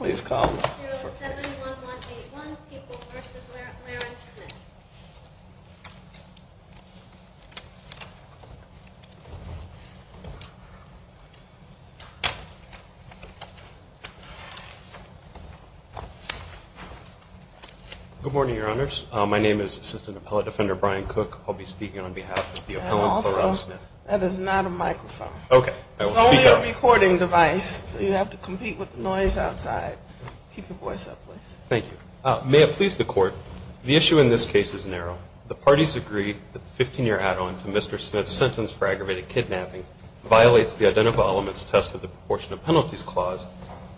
Good morning, Your Honors. My name is Assistant Appellate Defender Brian Cook. I'll be speaking on behalf of the appellant, Clarence Smith. That is not a microphone. It's only a recording device, so you have to compete with the noise outside. Keep your voice up, please. Thank you. May it please the Court, the issue in this case is narrow. The parties agree that the 15-year add-on to Mr. Smith's sentence for aggravated kidnapping violates the Identifiable Elements Test of the Proportion of Penalties Clause,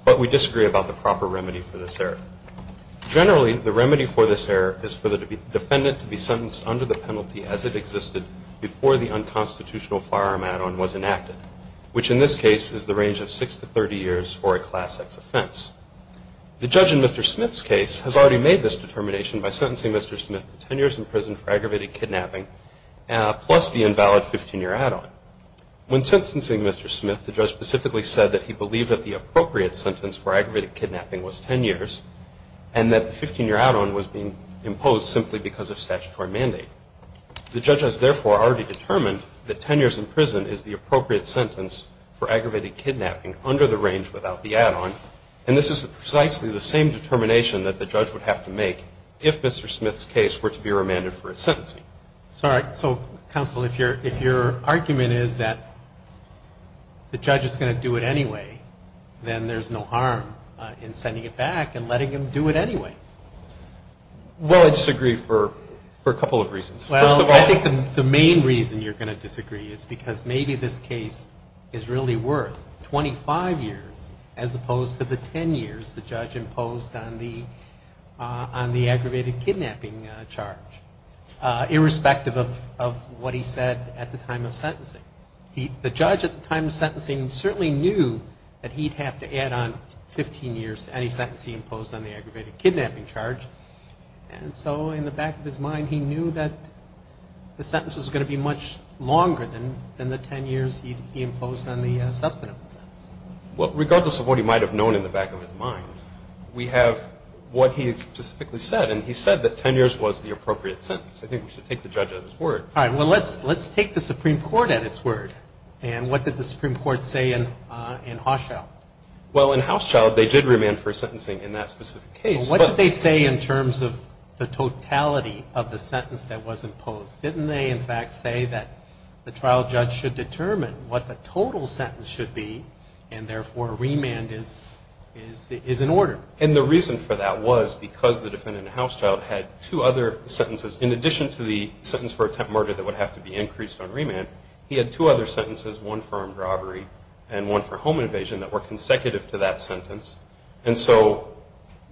but we disagree about the proper remedy for this error. Generally, the remedy for this error is for the defendant to be sentenced under the penalty as it existed before the unconstitutional firearm add-on was enacted, which in this case is the range of 6 to 30 years for a Class X offense. The judge in Mr. Smith's case has already made this determination by sentencing Mr. Smith to 10 years in prison for aggravated kidnapping plus the invalid 15-year add-on. When sentencing Mr. Smith, the judge specifically said that he believed that the appropriate sentence for aggravated kidnapping was 10 years and that the 15-year add-on was being imposed simply because of statutory mandate. The judge has therefore already determined that 10 years in prison is the appropriate sentence for aggravated kidnapping under the range without the add-on, and this is precisely the same determination that the judge would have to make if Mr. Smith's case were to be remanded for its sentencing. So, all right. So, counsel, if your argument is that the judge is going to do it anyway, then there's no harm in sending it back and letting him do it anyway. Well, I disagree for a couple of reasons. First of all, I think the main reason you're going to disagree is because maybe this case is really worth 25 years as opposed to the 10 years the judge imposed on the aggravated kidnapping charge, irrespective of what he said at the time of sentencing. The judge at the time of sentencing certainly knew that he'd have to add on 15 years to any sentence he imposed on the aggravated kidnapping charge, and so in the back of his mind he knew that the sentence was going to be much longer than the 10 years he'd imposed on the substantive offense. Well, regardless of what he might have known in the back of his mind, we have what he specifically said, and he said that 10 years was the appropriate sentence. I think we should take the judge at his word. All right. Well, let's take the Supreme Court at its word, and what did the Supreme Court say in Hauschild? Well, in Hauschild, they did remand for sentencing in that specific case, but what did they say in terms of the totality of the sentence that was imposed? Didn't they, in fact, say that the trial judge should determine what the total sentence should be, and therefore remand is in order? And the reason for that was because the defendant in Hauschild had two other sentences. In addition to the sentence for attempt murder that would have to be increased on remand, he had two other sentences, one for armed robbery and one for home invasion, that were consecutive to that sentence. And so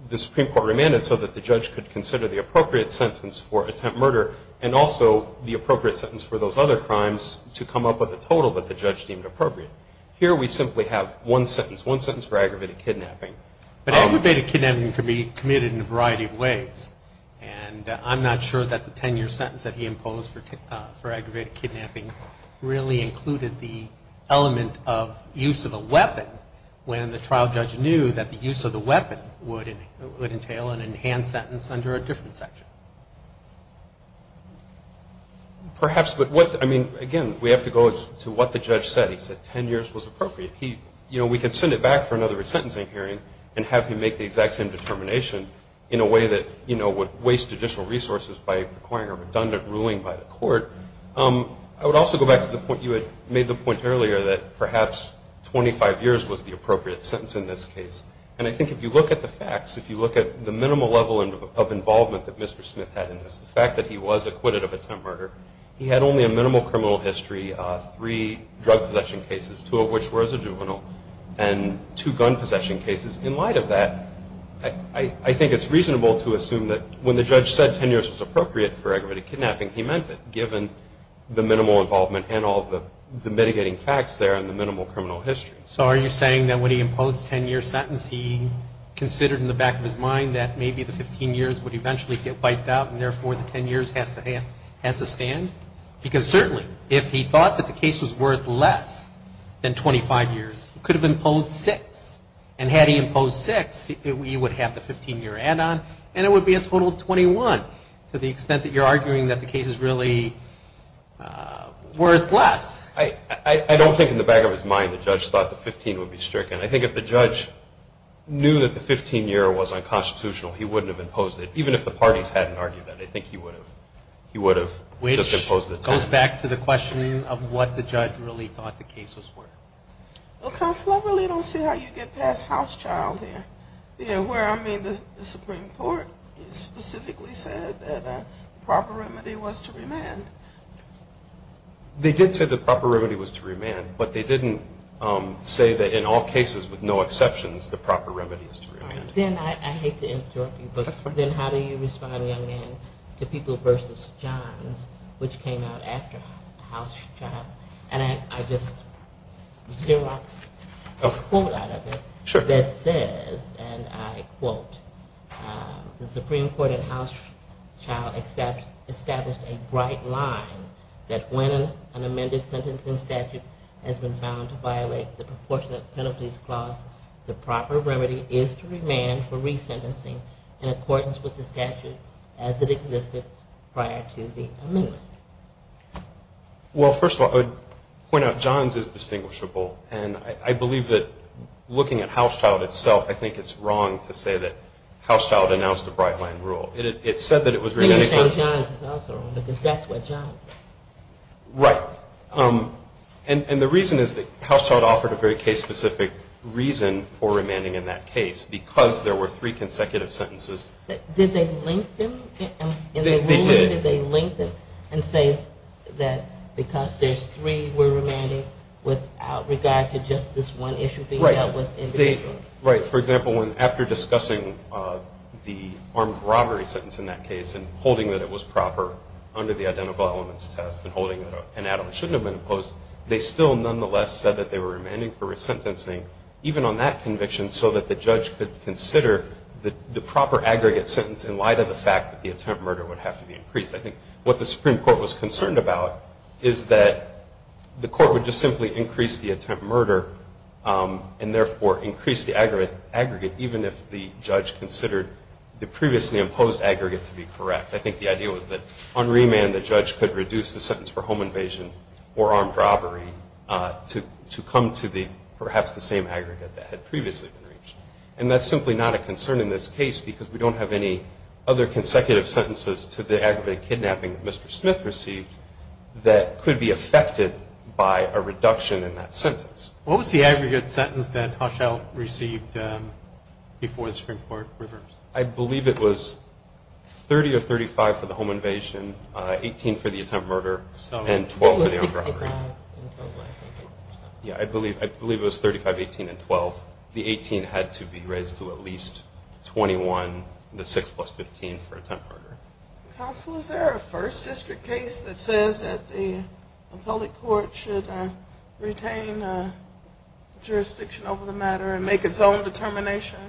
the Supreme Court remanded so that the judge could consider the appropriate sentence for attempt murder and also the appropriate sentence for those other crimes to come up with a total that the judge deemed appropriate. Here we simply have one sentence, one sentence for aggravated kidnapping. But aggravated kidnapping can be committed in a variety of ways, and I'm not sure that the 10-year sentence that he imposed for aggravated kidnapping really included the element of use of a weapon when the trial judge knew that the use of the weapon would entail an enhanced sentence under a different section. Perhaps, but what, I mean, again, we have to go to what the judge said. He said 10 years was appropriate. He, you know, we can send it back for another sentencing hearing and have him make the exact same determination in a way that, you know, would waste judicial resources by requiring a redundant ruling by the court. I would also go back to the point, you had made the point earlier that perhaps 25 years was the appropriate sentence in this case. And I think if you look at the facts, if you look at the minimal level of involvement that Mr. Smith had in this, the fact that he was acquitted of attempt murder, he had only a minimal criminal history, three drug possession cases, two of which were as a juvenile, and two gun possession cases. In light of that, I think it's reasonable to assume that when the judge said 10 years was appropriate for him, the minimal involvement and all of the mitigating facts there and the minimal criminal history. So are you saying that when he imposed a 10-year sentence, he considered in the back of his mind that maybe the 15 years would eventually get wiped out and therefore the 10 years has to stand? Because certainly, if he thought that the case was worth less than 25 years, he could have imposed six. And had he imposed six, he would have the 15-year add-on and it would be a total of 21, to the extent that you're arguing that the case is really worth less. I don't think in the back of his mind the judge thought the 15 would be stricken. I think if the judge knew that the 15-year was unconstitutional, he wouldn't have imposed it, even if the parties hadn't argued that. I think he would have just imposed the 10. Which goes back to the question of what the judge really thought the cases were. Well, Counselor, I really don't see how you get past House Child there. You know where I mean the Supreme Court specifically said that a proper remedy was to remand. They did say the proper remedy was to remand, but they didn't say that in all cases, with no exceptions, the proper remedy was to remand. Then I hate to interrupt you, but then how do you respond, young man, to People v. Johns, which came out after House Child? And I just want a quote out of it that says, and I quote, the Supreme Court in House Child established a bright line that when an amended sentencing statute has been found to violate the proportionate penalties clause, the proper remedy is to remand for resentencing in accordance with the statute as it existed prior to the amendment. Well, first of all, I would point out Johns is distinguishable, and I believe that looking at House Child itself, I think it's wrong to say that House Child announced a bright line rule. It said that it was remanded for... Then you're saying Johns is also wrong, because that's what Johns said. Right. And the reason is that House Child offered a very case-specific reason for remanding in that case, because there were three consecutive sentences... Did they link them in the ruling? They did. Did they link them and say that because there's three, we're remanding without regard to just this one issue being dealt with in the case? Right. For example, after discussing the armed robbery sentence in that case and holding that it was proper under the Identical Elements Test and holding that an add-on shouldn't have been imposed, they still nonetheless said that they were remanding for resentencing even on that conviction so that the judge could consider the proper aggregate sentence in light of the fact that the attempt murder would have to be increased. I think what the Supreme Court was concerned about is that the court would just simply increase the attempt murder and therefore increase the aggregate even if the judge considered the previously imposed aggregate to be correct. I think the idea was that on remand the judge could reduce the sentence for home invasion or armed robbery to come to perhaps the same aggregate that had previously been reached. And that's simply not a concern in this case, because we don't have any other consecutive sentences to the aggravated kidnapping that Mr. Smith received that could be affected by a reduction in that sentence. What was the aggregate sentence that Hushell received before the Supreme Court reversed? I believe it was 30 or 35 for the home invasion, 18 for the attempt murder, and 12 for the armed robbery. So it was 60% and 12%? Yeah, I believe it was 35, 18, and 12. The 18 had to be raised to at least 21, the 6 plus 15 for attempt murder. Counsel, is there a first district case that says that the appellate court should retain jurisdiction over the matter and make its own determination?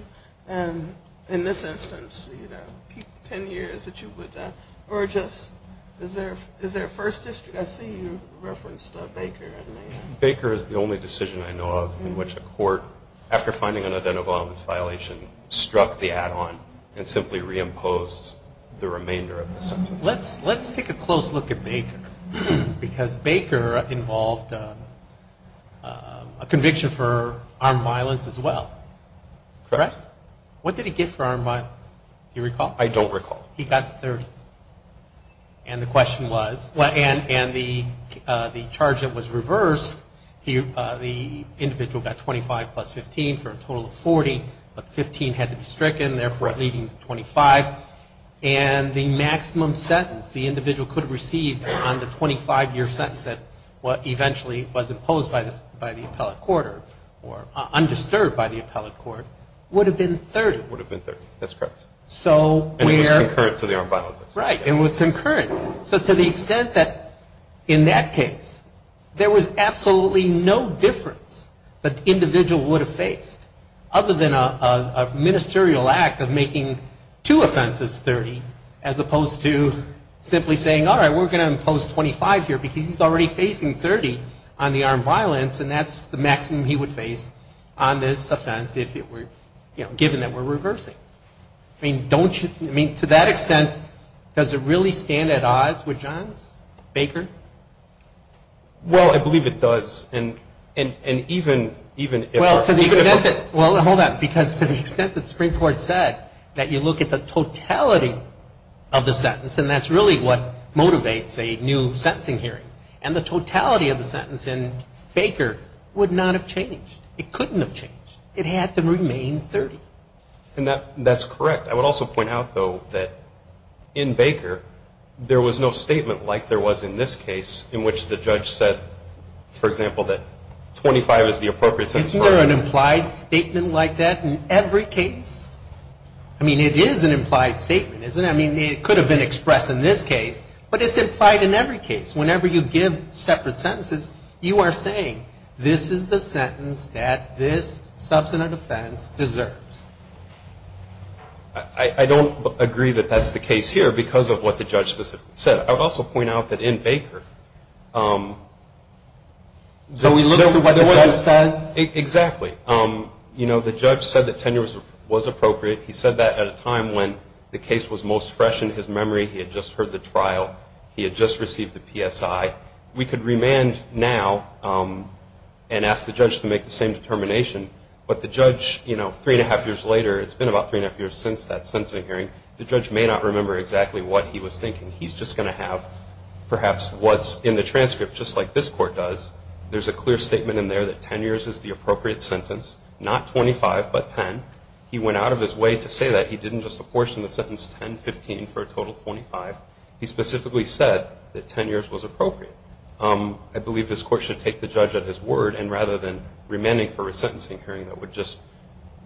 And in this instance, you know, keep 10 years that you would, or just, is there a first district? I see you referenced Baker. Baker is the only decision I know of in which a court, after finding an identifiable violation, struck the add-on and simply reimposed the remainder of the sentence. Let's take a close look at Baker, because Baker involved a conviction for armed violence as well. Correct? What did he get for armed violence? Do you recall? I don't recall. He got 30. And the question was, and the charge that was reversed, the individual got 25 plus 15 for a total of 40, but 15 had to be stricken, therefore leading to 25. And the maximum sentence the individual could receive on the 25-year sentence that eventually was imposed by the appellate court, or undisturbed by the appellate court, would have been 30. Would have been 30. That's correct. So where And it was concurrent to the armed violence. Right. It was concurrent. So to the extent that, in that case, there was absolutely no difference that the individual would have faced, other than a ministerial act of making two offenses 30, as opposed to simply saying, all right, we're going to impose 25 here, because he's already facing 30 on the armed violence, and that's the maximum he would face on this offense, if it were, you know, given that we're reversing. I mean, don't you, I mean, to that extent, does it really stand at odds with Johns, Baker? Well, I believe it does. And even, even if Well, to the extent that, well, hold on, because to the extent that Spring-Ford said that you look at the totality of the sentence, and that's really what motivates a new sentencing hearing, and the totality of the sentence in Baker would not have changed. It couldn't have changed. It had to remain 30. And that's correct. I would also point out, though, that in Baker, there was no statement like there was in this case, in which the judge said, for example, that 25 is the appropriate sentence for an armed violence. Isn't there an implied statement like that in every case? I mean, it is an implied statement, isn't it? I mean, it could have been expressed in this case, but it's implied in every case. Whenever you give separate sentences, you are saying, this is the sentence that this substantive offense deserves. I don't agree that that's the case here, because of what the judge specifically said. I would also point out that in Baker, the judge said that tenure was appropriate. He said that at a time when the case was most fresh in his memory. He had just heard the trial. He had just received the PSI. We could remand now and ask the judge to make the same determination, but the judge, three and a half years later, it's been about three and a half years since that sentencing hearing, the judge may not remember exactly what he was thinking. He's just going to have perhaps what's in the transcript, just like this court does. There's a clear statement in there that 10 years is the appropriate sentence. Not 25, but 10. He went out of his way to say that. He didn't just apportion the sentence 10-15 for a total 25. He specifically said that 10 years was appropriate. I believe this court should take the judge at his word, and rather than remanding for a sentencing hearing that would just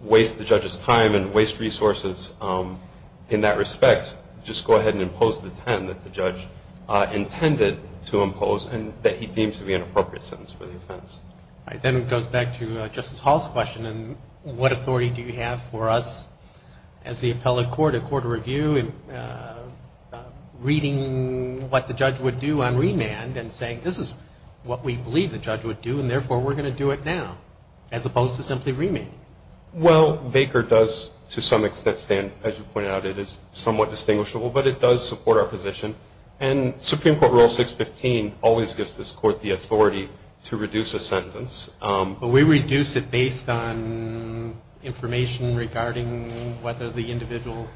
waste the judge's time and waste resources in that respect, just go ahead and impose the 10 that the judge intended to impose and that he deems to be an appropriate sentence for the offense. All right. Then it goes back to Justice Hall's question. What authority do you have for us as the appellate court, a court of review, in reading what the judge would do on remand and saying, this is what we believe the judge would do, and therefore we're going to do it now, as opposed to simply remanding? Well, Baker does, to some extent, stand, as you pointed out, it is somewhat distinguishable, but it does support our position. And Supreme Court Rule 615 always gives this court the authority to reduce a sentence. We reduce it based on information regarding whether the individual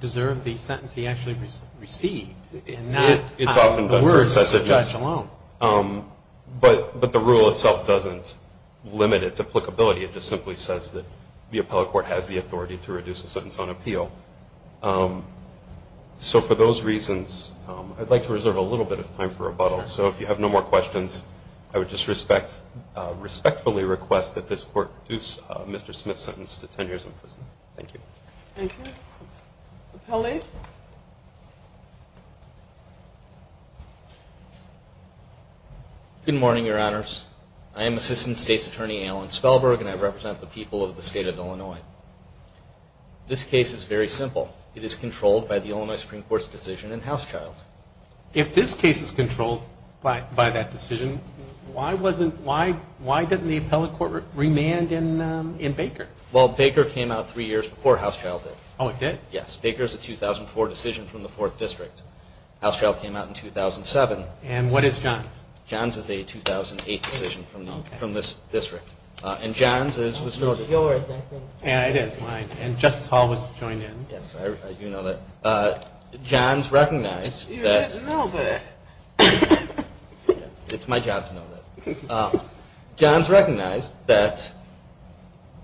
deserved the sentence he actually received, and not on the words of the judge alone. But the rule itself doesn't limit its applicability. It just simply says that the appellate court has the authority to reduce a sentence on appeal. So for those reasons, I'd like to reserve a little bit of time for rebuttal. So if you have no more questions, I would just respectfully request that this court reduce Mr. Smith's sentence to 10 years in prison. Thank you. Thank you. Appellate? Good morning, Your Honors. I am Assistant State's Attorney Alan Spellberg, and I represent the people of the state of Illinois. This case is very simple. It is controlled by the Illinois Supreme Court's decision in Housechild. If this case is controlled by that decision, why didn't the appellate court remand in Baker? Well, Baker came out three years before Housechild did. Oh, it did? Yes. Baker is a 2004 decision from the 4th District. Housechild came out in 2007. And what is Johns? Johns is a 2008 decision from this district. And Johns is... It's yours, I think. Yeah, it is mine. And Justice Hall was joined in. Yes, I do know that. Johns recognized that... You didn't know that. It's my job to know that. Johns recognized that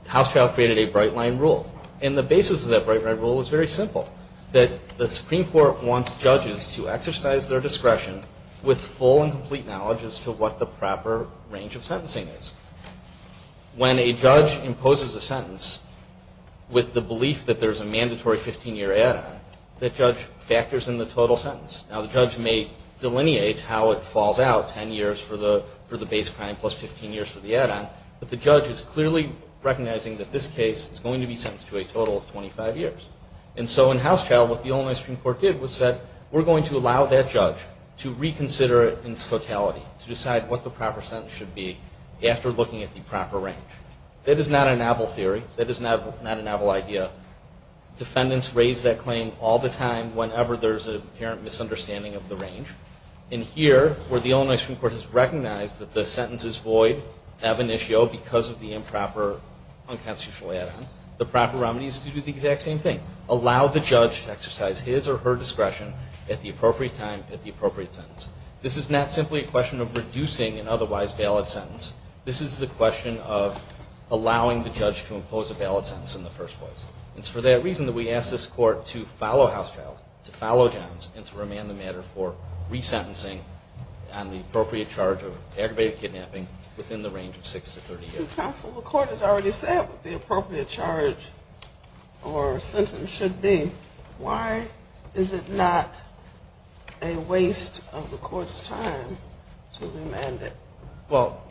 Housechild created a bright-line rule. And the basis of that bright-line rule is very simple. That the Supreme Court wants judges to exercise their discretion with full and complete knowledge as to what the proper range of sentencing is. When a judge imposes a sentence with the belief that there's a mandatory 15-year add-on, the judge factors in the total sentence. Now, the judge may delineate how it falls out, 10 years for the base crime plus 15 years for the add-on, but the judge is clearly recognizing that this case is going to be sentenced to a total of We're going to allow that judge to reconsider its totality, to decide what the proper sentence should be after looking at the proper range. That is not a novel theory. That is not a novel idea. Defendants raise that claim all the time whenever there's an apparent misunderstanding of the range. And here, where the Illinois Supreme Court has recognized that the sentence is void, ab initio, because of the improper unconstitutional add-on, the proper remedy is to do the exact same thing. Allow the judge to exercise his or her discretion at the appropriate time, at the appropriate sentence. This is not simply a question of reducing an otherwise valid sentence. This is the question of allowing the judge to impose a valid sentence in the first place. It's for that reason that we ask this Court to follow House Childs, to follow Johns, and to remand the matter for resentencing on the appropriate charge of aggravated kidnapping within the range of 6 to 30 years. And counsel, the Court has already said what the appropriate charge or sentence should be. Why is it not a waste of the Court's time to remand it? Well,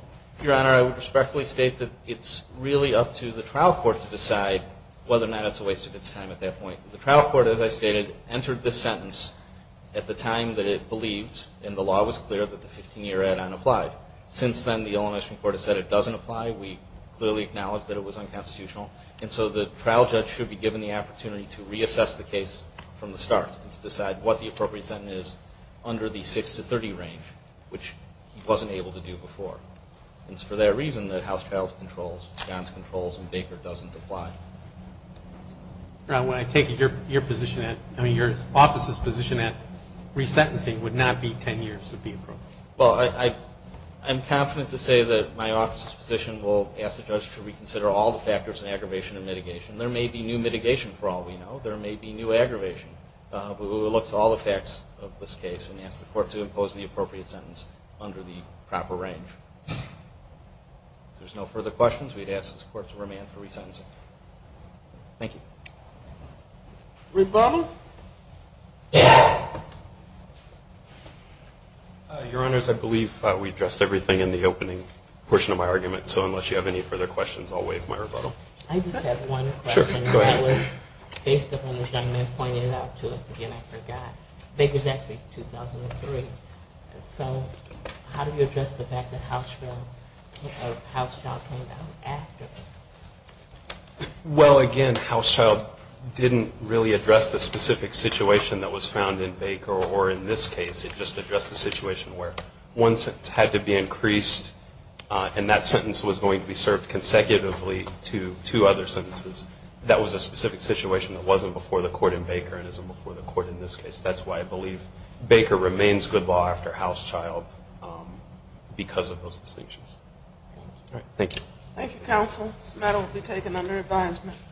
Your Honor, I would respectfully state that it's really up to the trial court to decide whether or not it's a waste of its time at that point. The trial court, as I stated, entered this sentence at the time that it believed in the law was clear that the 15-year add-on applied. Since then, the Elementary Court has said it doesn't apply. We clearly acknowledge that it was unconstitutional. And so the trial judge should be given the opportunity to reassess the case from the start and to decide what the appropriate sentence is under the 6 to 30 range, which he wasn't able to do before. It's for that reason that House Childs controls, Johns controls, and Baker doesn't apply. Your Honor, when I take your position at – I mean, your office's position at resentencing would not be 10 years of being proven. Well, I'm confident to say that my office's position will ask the judge to reconsider all the factors in aggravation and mitigation. There may be new mitigation, for all we know. There may be new aggravation. But we will look to all the facts of this case and ask the Court to impose the appropriate sentence under the proper range. If there's no further questions, we'd ask this Court to remand for resentencing. Thank you. Your Honors, I believe we addressed everything in the opening portion of my argument. So unless you have any further questions, I'll waive my rebuttal. I just have one question. Sure, go ahead. That was based upon what this young man pointed out to us. Again, I forgot. Baker's actually 2003. So how do you address the fact that House Child came down after? Well again, House Child didn't really address the specific situation that was found in Baker or in this case. It just addressed the situation where one sentence had to be increased and that sentence was going to be served consecutively to two other sentences. That was a specific situation that wasn't before the Court in Baker and isn't before the Court in this case. That's why I believe Baker remains good law after House Child because of those distinctions. Thank you. Thank you, Counsel. This matter will be taken under advisement.